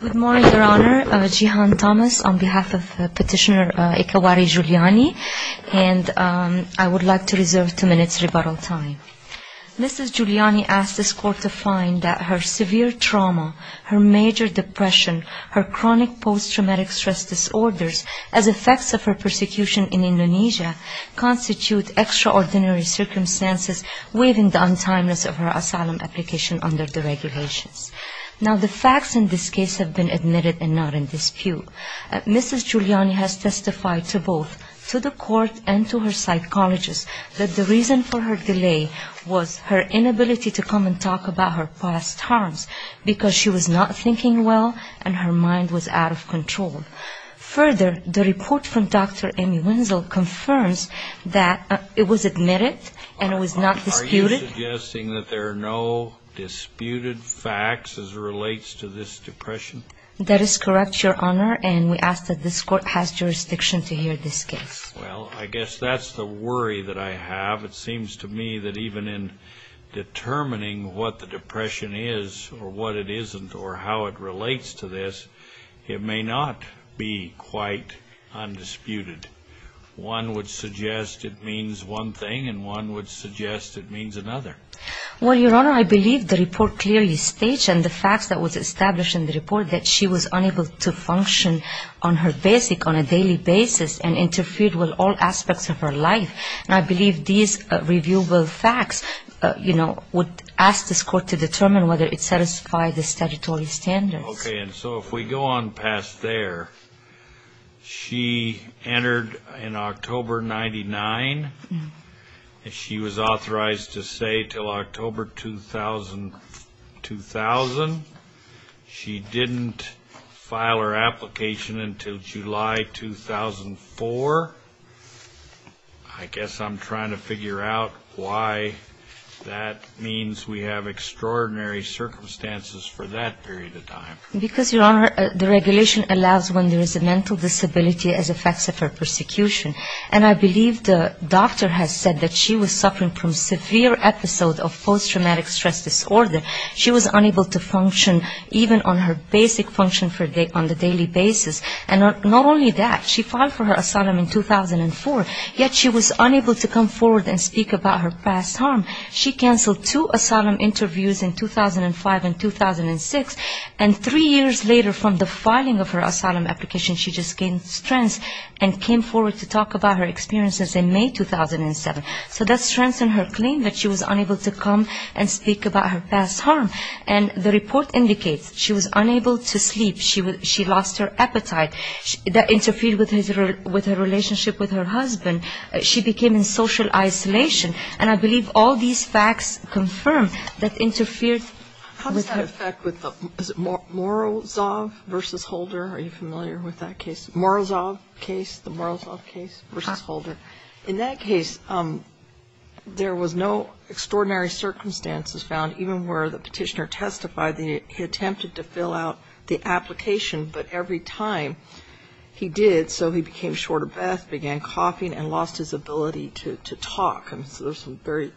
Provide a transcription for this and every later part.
Good morning, Your Honor. Jihan Thomas on behalf of Petitioner Ekawati Juliani. And I would like to reserve two minutes rebuttal time. Mrs. Juliani asked this court to find that her severe trauma, her major depression, her chronic post-traumatic stress disorders as effects of her persecution in Indonesia constitute extraordinary circumstances within the untimeliness of her asylum application under the regulations. Now, the facts in this case have been admitted and not in dispute. Mrs. Juliani has testified to both, to the court and to her psychologist, that the reason for her delay was her inability to come and talk about her past harms because she was not thinking well and her mind was out of control. Further, the report from Dr. Amy Wenzel confirms that it was admitted and it was not disputed. Are you suggesting that there are no disputed facts as it relates to this depression? That is correct, Your Honor, and we ask that this court has jurisdiction to hear this case. Well, I guess that's the worry that I have. It seems to me that even in determining what the depression is or what it isn't or how it relates to this, it may not be quite undisputed. One would suggest it means one thing and one would suggest it means another. Well, Your Honor, I believe the report clearly states and the facts that was established in the report that she was unable to function on her basic, on a daily basis, and interfered with all aspects of her life. And I believe these reviewable facts, you know, would ask this court to determine whether it satisfies the statutory standards. Okay, and so if we go on past there, she entered in October 1999, and she was authorized to stay until October 2000. She didn't file her application until July 2004. I guess I'm trying to figure out why that means we have extraordinary circumstances for that period of time. Because, Your Honor, the regulation allows when there is a mental disability as effects of her persecution. And I believe the doctor has said that she was suffering from severe episode of post-traumatic stress disorder. She was unable to function even on her basic function on the daily basis. And not only that, she filed for her asylum in 2004, yet she was unable to come forward and speak about her past harm. She canceled two asylum interviews in 2005 and 2006, and three years later from the filing of her asylum application, she just gained strength and came forward to talk about her experiences in May 2007. So that strengthened her claim that she was unable to come and speak about her past harm. And the report indicates she was unable to sleep. She lost her appetite. That interfered with her relationship with her husband. She became in social isolation. And I believe all these facts confirm that interfered with her. How does that affect with the Morozov versus Holder? Are you familiar with that case? Morozov case, the Morozov case versus Holder. In that case, there was no extraordinary circumstances found even where the petitioner testified that he attempted to fill out the application, but every time he did, so he became short of breath, began coughing, and lost his ability to talk. So there's some very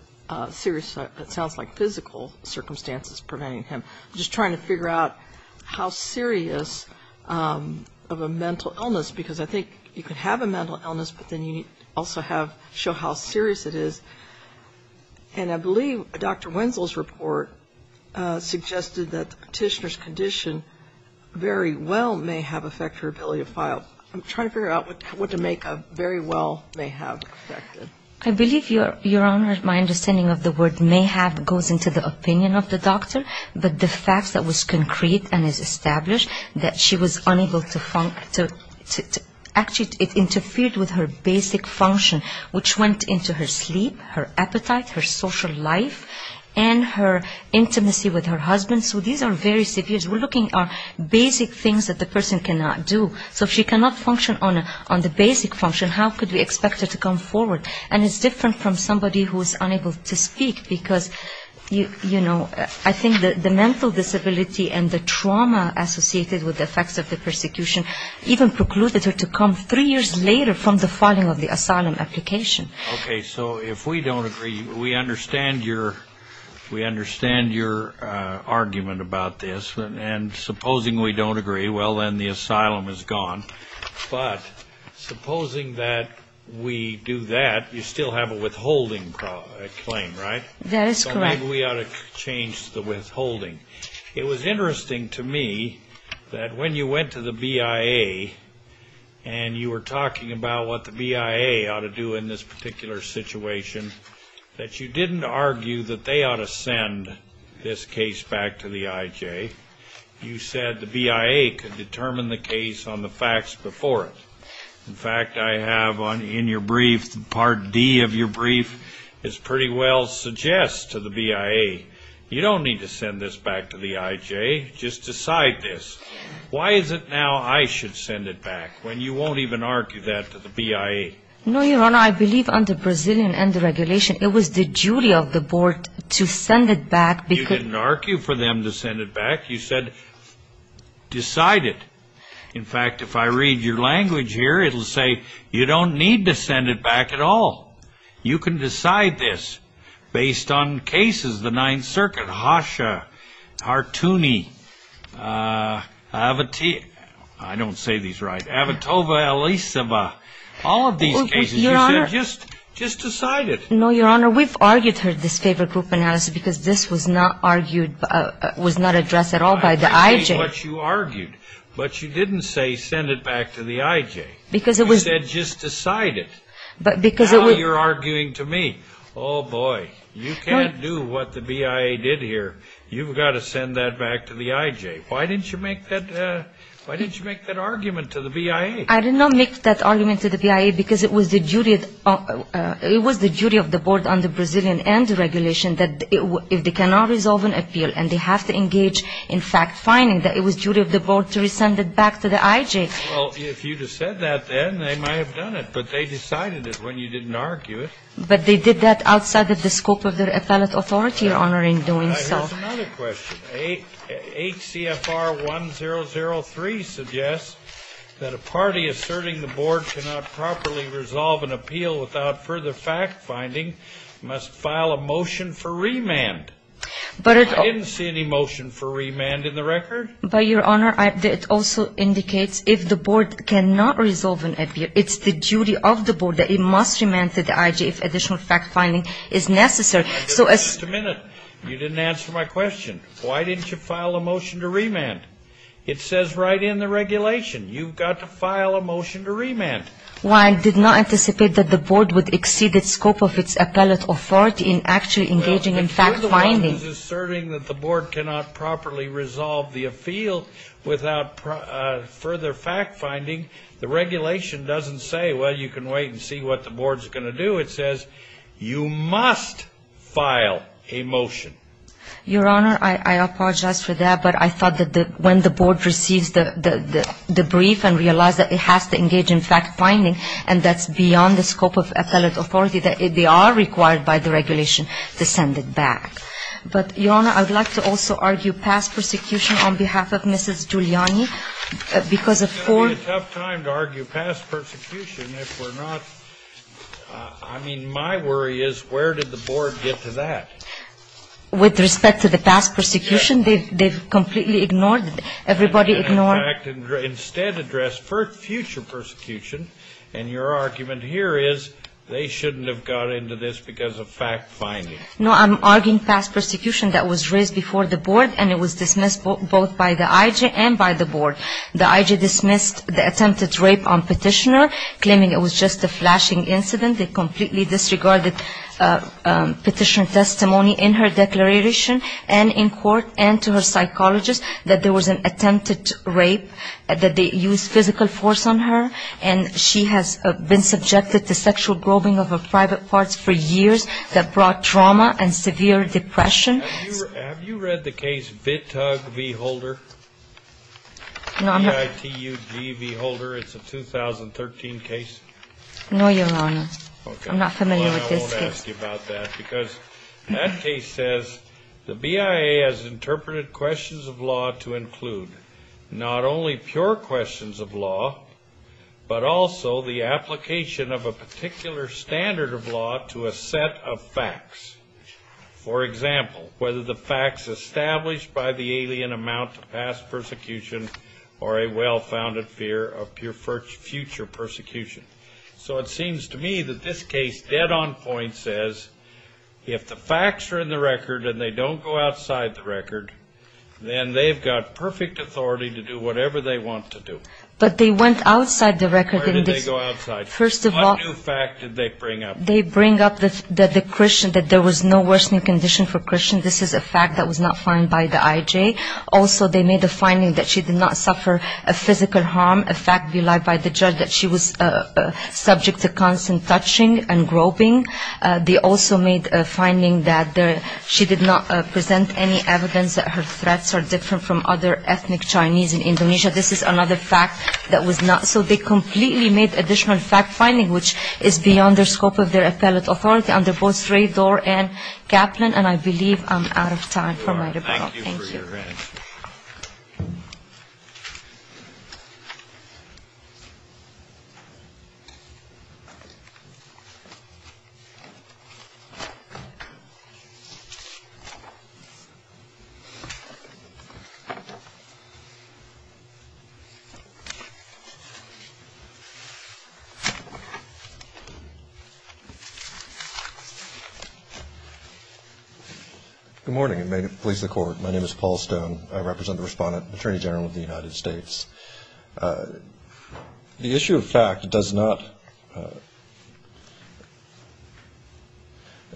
serious, it sounds like, physical circumstances preventing him. I'm just trying to figure out how serious of a mental illness, because I think you can have a mental illness, but then you also have to show how serious it is. And I believe Dr. Wenzel's report suggested that the petitioner's condition very well may have affected her ability to file. I'm trying to figure out what to make of very well may have affected. I believe, Your Honor, my understanding of the word may have goes into the opinion of the doctor, but the fact that was concrete and is established that she was unable to actually, it interfered with her basic function, which went into her sleep, her appetite, her social life, and her intimacy with her husband. So these are very severe. We're looking at basic things that the person cannot do. So if she cannot function on the basic function, how could we expect her to come forward? And it's different from somebody who is unable to speak, because, you know, I think the mental disability and the trauma associated with the effects of the persecution even precluded her to come three years later from the filing of the asylum application. Okay. So if we don't agree, we understand your argument about this. And supposing we don't agree, well, then the asylum is gone. But supposing that we do that, you still have a withholding claim, right? That is correct. Why do we ought to change the withholding? It was interesting to me that when you went to the BIA and you were talking about what the BIA ought to do in this particular situation, that you didn't argue that they ought to send this case back to the IJ. You said the BIA could determine the case on the facts before it. In fact, I have in your brief, Part D of your brief, it pretty well suggests to the BIA, you don't need to send this back to the IJ. Just decide this. Why is it now I should send it back when you won't even argue that to the BIA? No, Your Honor. I believe under Brazilian end regulation, it was the duty of the board to send it back. You didn't argue for them to send it back. You said decide it. In fact, if I read your language here, it will say you don't need to send it back at all. You can decide this based on cases, the Ninth Circuit, Harsha, Hartooni, I don't say these right, Avitova, Elisava, all of these cases you said just decide it. No, Your Honor. We've argued this favor group analysis because this was not argued, was not addressed at all by the IJ. But you didn't say send it back to the IJ. You said just decide it. Now you're arguing to me. Oh, boy, you can't do what the BIA did here. You've got to send that back to the IJ. Why didn't you make that argument to the BIA? I did not make that argument to the BIA because it was the duty of the board under Brazilian end regulation that if they cannot resolve an appeal and they have to engage in fact-finding, that it was duty of the board to resend it back to the IJ. Well, if you'd have said that then, they might have done it. But they decided it when you didn't argue it. But they did that outside of the scope of their appellate authority, Your Honor, in doing so. I have another question. HCFR 1003 suggests that a party asserting the board cannot properly resolve an appeal without further fact-finding must file a motion for remand. I didn't see any motion for remand in the record. But, Your Honor, it also indicates if the board cannot resolve an appeal, it's the duty of the board that it must remand to the IJ if additional fact-finding is necessary. Just a minute. You didn't answer my question. Why didn't you file a motion to remand? It says right in the regulation, you've got to file a motion to remand. Well, I did not anticipate that the board would exceed its scope of its appellate authority in actually engaging in fact-finding. Well, if you're the one who's asserting that the board cannot properly resolve the appeal without further fact-finding, the regulation doesn't say, well, you can wait and see what the board's going to do. It says you must file a motion. Your Honor, I apologize for that. But I thought that when the board receives the brief and realizes that it has to engage in fact-finding and that's beyond the scope of appellate authority, that they are required by the regulation to send it back. But, Your Honor, I would like to also argue past persecution on behalf of Mrs. Giuliani, because of poor ---- It's going to be a tough time to argue past persecution if we're not ---- I mean, my worry is where did the board get to that? With respect to the past persecution, they've completely ignored, everybody ignored ---- In fact, instead addressed future persecution, and your argument here is they shouldn't have got into this because of fact-finding. No, I'm arguing past persecution that was raised before the board and it was dismissed both by the IG and by the board. The IG dismissed the attempted rape on Petitioner, claiming it was just a flashing incident. They completely disregarded Petitioner testimony in her declaration and in court and to her psychologist that there was an attempted rape, that they used physical force on her, and she has been subjected to sexual groping of her private parts for years that brought trauma and severe depression. Have you read the case Vitug v. Holder? No, I'm not ---- V-I-T-U-G v. Holder. It's a 2013 case. No, Your Honor. I'm not familiar with this case. Well, I won't ask you about that because that case says the BIA has interpreted questions of law to include not only pure questions of law, but also the application of a particular standard of law to a set of facts. For example, whether the facts established by the alien amount to past persecution or a well-founded fear of future persecution. So it seems to me that this case dead on point says if the facts are in the record and they don't go outside the record, then they've got perfect authority to do whatever they want to do. But they went outside the record in this. Where did they go outside? First of all, What new fact did they bring up? They bring up that there was no worsening condition for Christian. This is a fact that was not found by the IJ. Also, they made a finding that she did not suffer a physical harm, a fact belied by the judge that she was subject to constant touching and groping. They also made a finding that she did not present any evidence that her threats are different from other ethnic Chinese in Indonesia. This is another fact that was not. So they completely made additional fact-finding, which is beyond the scope of their appellate authority under both Sredor and Kaplan. And I believe I'm out of time for my rebuttal. Thank you. Good morning, and may it please the Court. My name is Paul Stone. I represent the Respondent, Attorney General of the United States. The issue of fact does not.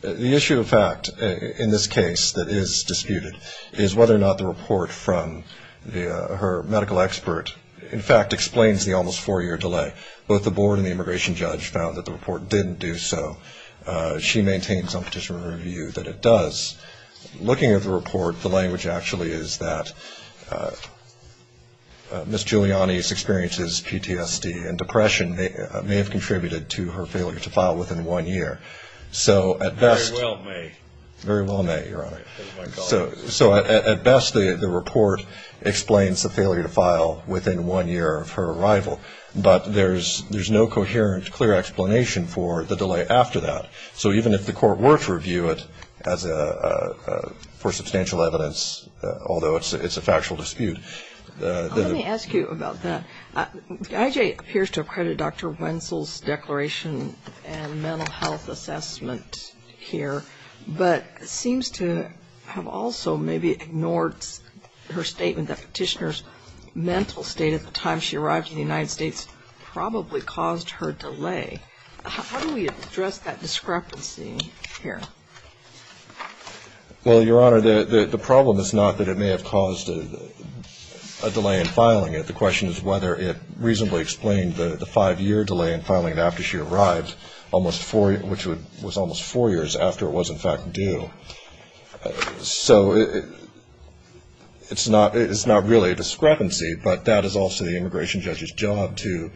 The issue of fact in this case that is disputed is whether or not the report from her medical expert, in fact, explains the almost four-year delay. Both the board and the immigration judge found that the report didn't do so. She maintains on petitioner review that it does. Looking at the report, the language actually is that Ms. Giuliani's experiences, PTSD and depression, may have contributed to her failure to file within one year. Very well may. Very well may, Your Honor. So at best, the report explains the failure to file within one year of her arrival. But there's no coherent, clear explanation for the delay after that. So even if the Court were to review it for substantial evidence, although it's a factual dispute. Let me ask you about that. IJ appears to have credited Dr. Wenzel's declaration and mental health assessment here, but seems to have also maybe ignored her statement that petitioner's mental state at the time she arrived in the United States probably caused her delay. How do we address that discrepancy here? Well, Your Honor, the problem is not that it may have caused a delay in filing it. The question is whether it reasonably explained the five-year delay in filing it after she arrived, which was almost four years after it was, in fact, due. So it's not really a discrepancy, but that is also the immigration judge's job to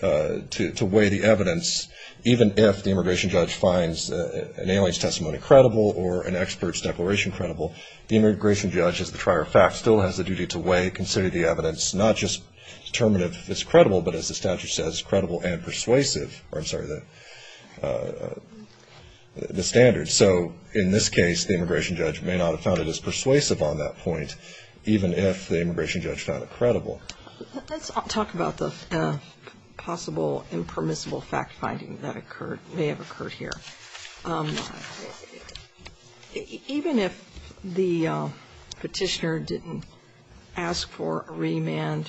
weigh the evidence. Even if the immigration judge finds an alien's testimony credible or an expert's declaration credible, the immigration judge, as the trier of facts, still has the duty to weigh, consider the evidence, not just determine if it's credible, but as the statute says, credible and persuasive. I'm sorry, the standards. So in this case, the immigration judge may not have found it as persuasive on that point, even if the immigration judge found it credible. Let's talk about the possible impermissible fact-finding that may have occurred here. Even if the petitioner didn't ask for a remand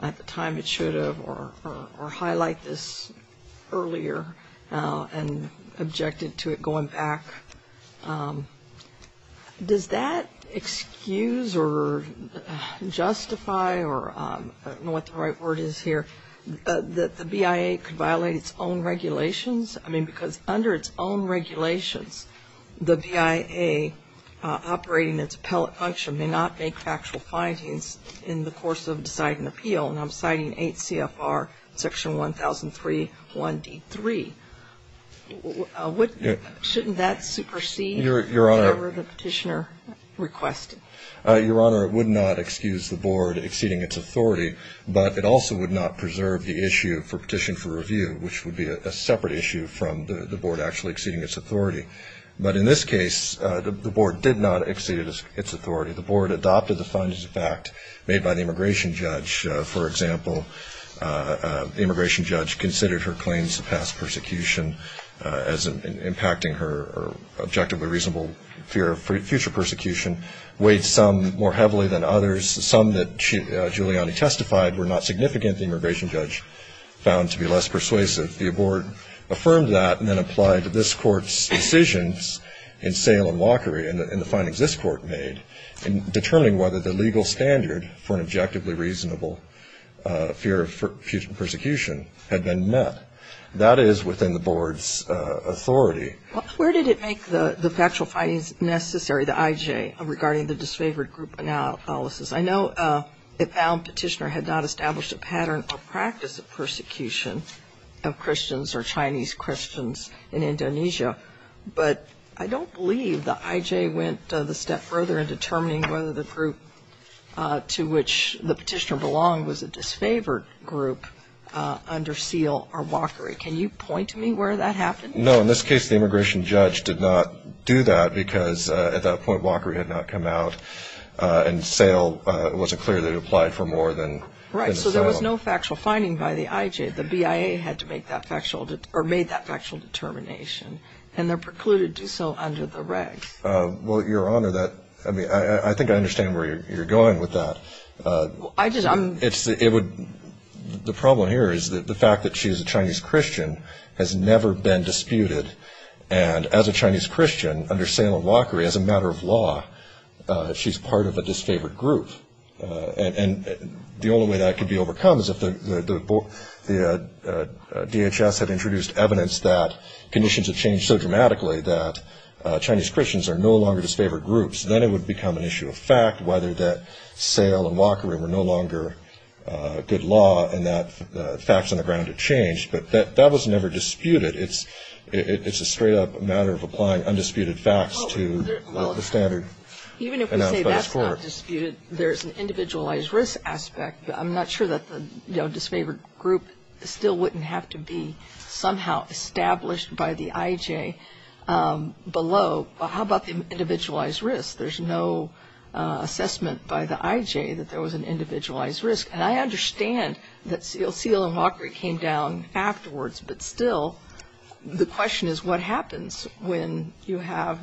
at the time it should have or highlight this earlier and objected to it going back, does that excuse or justify or I don't know what the right word is here, that the BIA could violate its own regulations? I mean, because under its own regulations, the BIA operating its appellate function may not make factual findings in the course of deciding appeal, and I'm citing 8 CFR section 1003 1D3. Shouldn't that supersede whatever the petitioner requested? Your Honor, it would not excuse the board exceeding its authority, but it also would not preserve the issue for petition for review, which would be a separate issue from the board actually exceeding its authority. But in this case, the board did not exceed its authority. The board adopted the findings of fact made by the immigration judge. For example, the immigration judge considered her claims of past persecution as impacting her objectively reasonable fear of future persecution, weighed some more heavily than others. Some that Giuliani testified were not significant. The immigration judge found to be less persuasive. The board affirmed that and then applied to this Court's decisions in Salem Lockery and the findings this Court made in determining whether the legal standard for an objectively reasonable fear of future persecution had been met. That is within the board's authority. Well, where did it make the factual findings necessary, the IJ, regarding the disfavored group analysis? I know the found petitioner had not established a pattern or practice of persecution of Christians or Chinese Christians in Indonesia, but I don't believe the IJ went the step further in determining whether the group to which the petitioner belonged was a disfavored group under seal or Lockery. Can you point to me where that happened? No. In this case, the immigration judge did not do that because at that point Lockery had not come out and Salem wasn't clear that it applied for more than Salem. Right. So there was no factual finding by the IJ. The BIA had to make that factual or made that factual determination, and they're precluded to do so under the regs. Well, Your Honor, I think I understand where you're going with that. The problem here is the fact that she's a Chinese Christian has never been disputed, and as a Chinese Christian under Salem and Lockery, as a matter of law, she's part of a disfavored group. And the only way that could be overcome is if the DHS had introduced evidence that conditions had changed so dramatically that Chinese Christians are no longer disfavored groups. Then it would become an issue of fact, whether that Salem and Lockery were no longer good law and that facts on the ground had changed. But that was never disputed. It's a straight-up matter of applying undisputed facts to the standard. Even if we say that's not disputed, there's an individualized risk aspect. I'm not sure that the disfavored group still wouldn't have to be somehow established by the IJ below. Well, how about the individualized risk? There's no assessment by the IJ that there was an individualized risk. And I understand that Salem and Lockery came down afterwards, but still the question is what happens when you have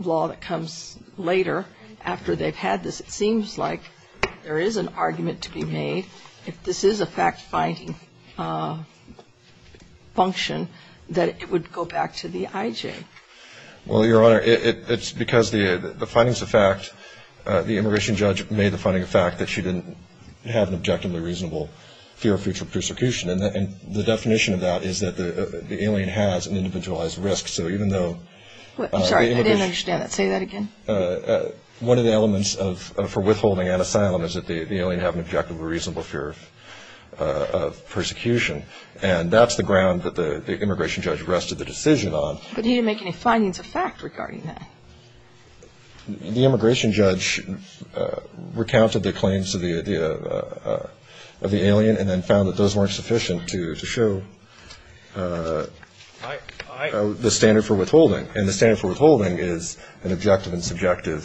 law that comes later after they've had this. It seems like there is an argument to be made. If this is a fact-finding function, that it would go back to the IJ. Well, Your Honor, it's because the findings of fact, the immigration judge made the finding of fact that she didn't have an objectively reasonable fear of future persecution. And the definition of that is that the alien has an individualized risk. So even though the immigration judge. I'm sorry, I didn't understand that. Say that again. One of the elements for withholding an asylum is that the alien had an objectively reasonable fear of persecution. And that's the ground that the immigration judge rested the decision on. But he didn't make any findings of fact regarding that. The immigration judge recounted the claims of the alien and then found that those weren't sufficient to show the standard for withholding. And the standard for withholding is an objective and subjective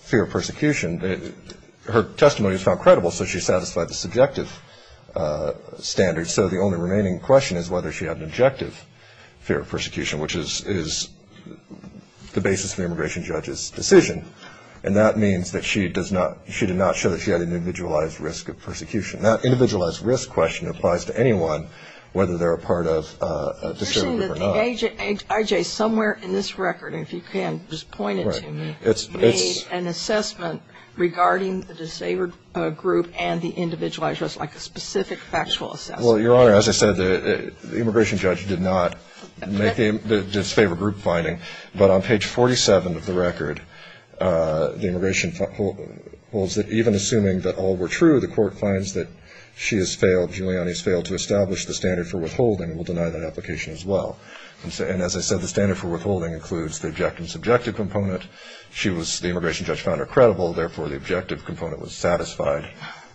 fear of persecution. Her testimony was found credible, so she satisfied the subjective standard. And so the only remaining question is whether she had an objective fear of persecution, which is the basis of the immigration judge's decision. And that means that she did not show that she had an individualized risk of persecution. That individualized risk question applies to anyone, whether they're a part of a disabled group or not. You're saying that the IJ somewhere in this record, if you can just point it to me, made an assessment regarding the disabled group and the individualized risk like a specific factual assessment. Well, Your Honor, as I said, the immigration judge did not make the disabled group finding. But on page 47 of the record, the immigration holds that even assuming that all were true, the court finds that she has failed, Giuliani has failed to establish the standard for withholding and will deny that application as well. And as I said, the standard for withholding includes the objective and subjective component. The immigration judge found her credible. Therefore, the objective component was satisfied.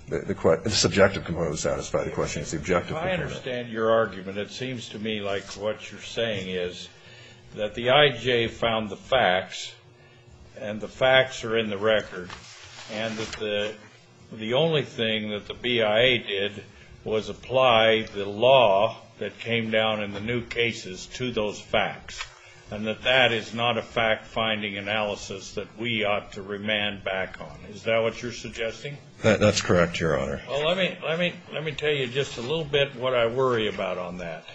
The subjective component was satisfied. The question is the objective component. I understand your argument. It seems to me like what you're saying is that the IJ found the facts, and the facts are in the record, and that the only thing that the BIA did was apply the law that came down in the new cases to those facts, and that that is not a fact-finding analysis that we ought to remand back on. Is that what you're suggesting? That's correct, Your Honor. Well, let me tell you just a little bit what I worry about on that.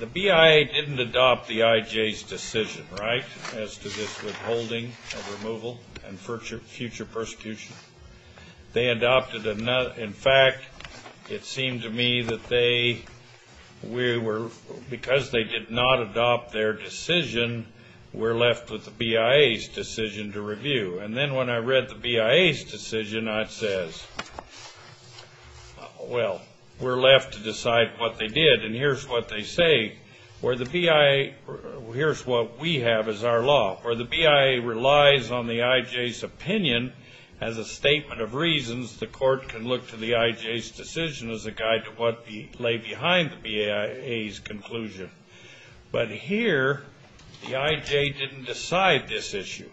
The BIA didn't adopt the IJ's decision, right, as to this withholding and removal, and future persecution. They adopted another. In fact, it seemed to me that they were, because they did not adopt their decision, we're left with the BIA's decision to review. And then when I read the BIA's decision, I says, well, we're left to decide what they did. And here's what they say. Here's what we have as our law. For the BIA relies on the IJ's opinion as a statement of reasons, the court can look to the IJ's decision as a guide to what lay behind the BIA's conclusion. But here, the IJ didn't decide this issue.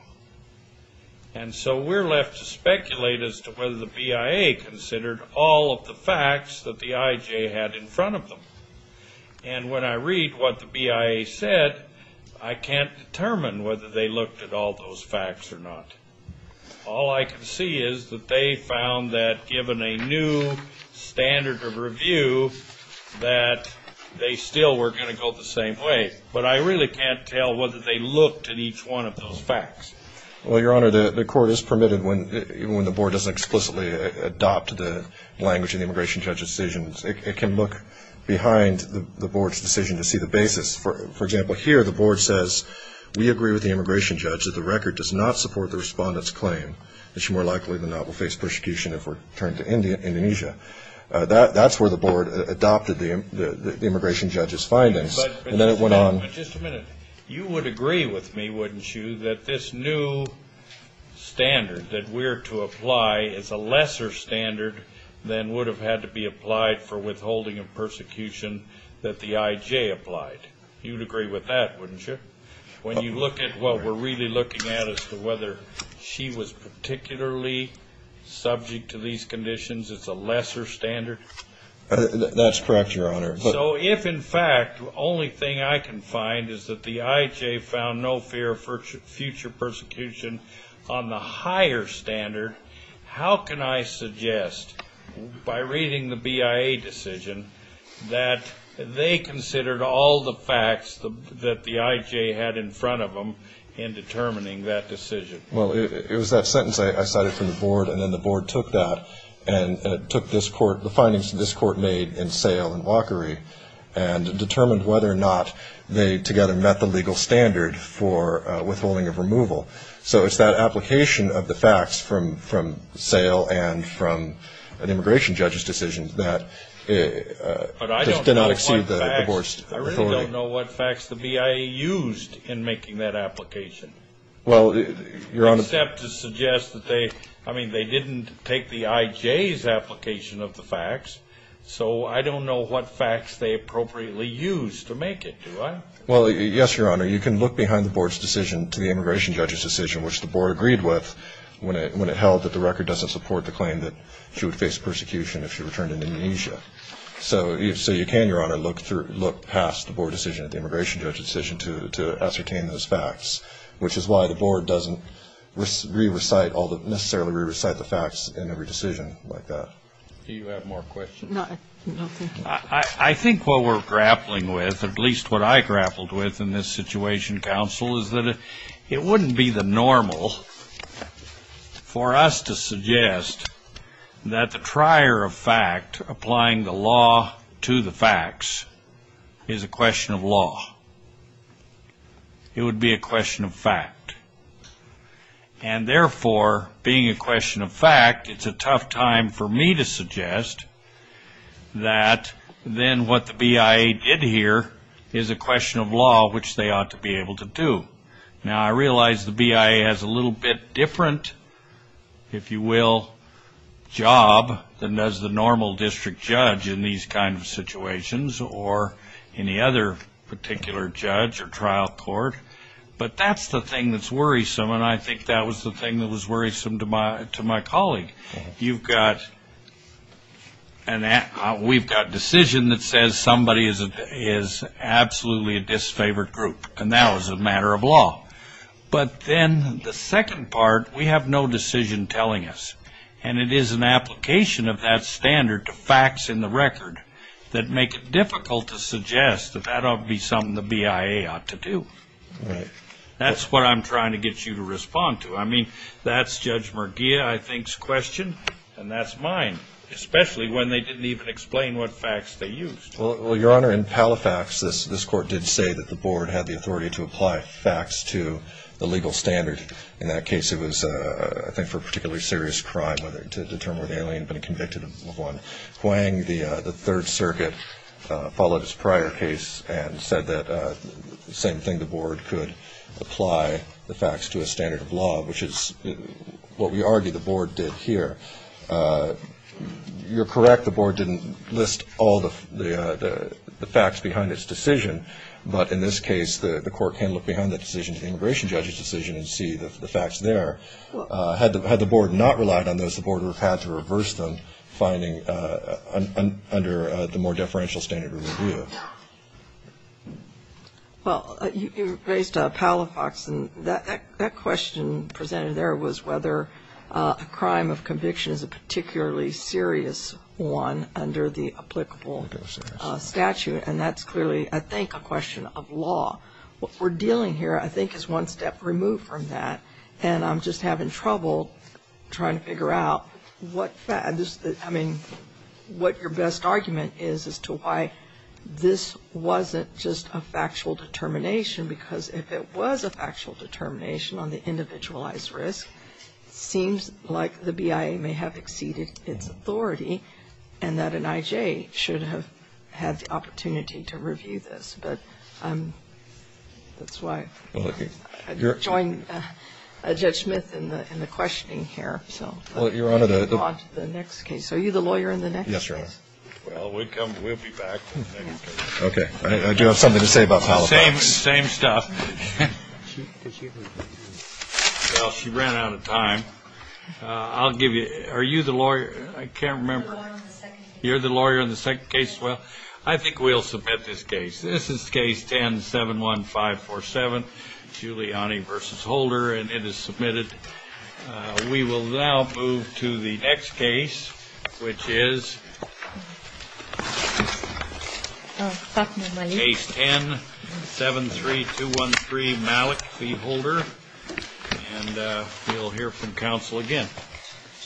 And so we're left to speculate as to whether the BIA considered all of the facts that the IJ had in front of them. And when I read what the BIA said, I can't determine whether they looked at all those facts or not. All I can see is that they found that, given a new standard of review, that they still were going to go the same way. But I really can't tell whether they looked at each one of those facts. Well, Your Honor, the court is permitted, even when the board doesn't explicitly adopt the language in the immigration judge's decisions, it can look behind the board's decision to see the basis. For example, here the board says, we agree with the immigration judge that the record does not support the respondent's claim that she more likely than not will face persecution if returned to Indonesia. That's where the board adopted the immigration judge's findings. And then it went on. But just a minute. You would agree with me, wouldn't you, that this new standard that we're to apply is a lesser standard than would have had to be applied for withholding of persecution that the IJ applied? You would agree with that, wouldn't you? When you look at what we're really looking at as to whether she was particularly subject to these conditions, it's a lesser standard? That's correct, Your Honor. So if, in fact, the only thing I can find is that the IJ found no fear of future persecution on the higher standard, how can I suggest, by reading the BIA decision, that they considered all the facts that the IJ had in front of them in determining that decision? Well, it was that sentence I cited from the board, and then the board took that and took the findings that this court made in Sale and Walkery and determined whether or not they together met the legal standard for withholding of removal. So it's that application of the facts from Sale and from an immigration judge's decision that did not exceed the board's authority. But I don't know what facts the BIA used in making that application, except to suggest that they, I mean, they didn't take the IJ's application of the facts, so I don't know what facts they appropriately used to make it, do I? Well, yes, Your Honor. You can look behind the board's decision to the immigration judge's decision, which the board agreed with when it held that the record doesn't support the claim that she would face persecution if she returned to Indonesia. So you can, Your Honor, look past the board decision at the immigration judge's decision to ascertain those facts, which is why the board doesn't necessarily re-recite the facts in every decision like that. Do you have more questions? No. I think what we're grappling with, at least what I grappled with in this situation, counsel, is that it wouldn't be the normal for us to suggest that the trier of fact applying the law to the facts is a question of law. It would be a question of fact. And therefore, being a question of fact, it's a tough time for me to suggest that then what the BIA did here is a question of law, which they ought to be able to do. Now, I realize the BIA has a little bit different, if you will, job than does the normal district judge in these kind of situations or any other particular judge or trial court. But that's the thing that's worrisome, and I think that was the thing that was worrisome to my colleague. We've got a decision that says somebody is absolutely a disfavored group, and that was a matter of law. But then the second part, we have no decision telling us, and it is an application of that standard to facts in the record that make it difficult to suggest that that ought to be something the BIA ought to do. Right. That's what I'm trying to get you to respond to. I mean, that's Judge Murgia, I think's question, and that's mine, especially when they didn't even explain what facts they used. Well, Your Honor, in Palifax, this court did say that the board had the authority to apply facts to the legal standard. In that case, it was, I think, for a particularly serious crime to determine whether the alien had been convicted of one. Hwang, the Third Circuit, followed its prior case and said that same thing, the board could apply the facts to a standard of law, which is what we argue the board did here. You're correct, the board didn't list all the facts behind its decision, but in this case, the court can look behind the decision, the immigration judge's decision, and see the facts there. Had the board not relied on those, the board would have had to reverse them, finding under the more deferential standard review. Well, you raised Palifax, and that question presented there was whether a crime of conviction is a particularly serious one under the applicable statute, and that's clearly, I think, a question of law. What we're dealing here, I think, is one step removed from that, and I'm just having trouble trying to figure out what, I mean, what your best argument is as to why this wasn't just a factual determination, because if it was a factual determination on the individualized risk, it seems like the BIA may have exceeded its authority, and that an I.J. should have had the opportunity to review this. But that's why I joined Judge Smith in the questioning here. Well, Your Honor, the next case. Are you the lawyer in the next case? Yes, Your Honor. Well, we'll be back. Okay. Do you have something to say about Palifax? Same stuff. Well, she ran out of time. Are you the lawyer? I can't remember. I'm the lawyer in the second case. You're the lawyer in the second case. Well, I think we'll submit this case. This is Case 10-71547, Giuliani v. Holder, and it is submitted. We will now move to the next case, which is Case 10-73213, Malik v. Holder, and we'll hear from counsel again.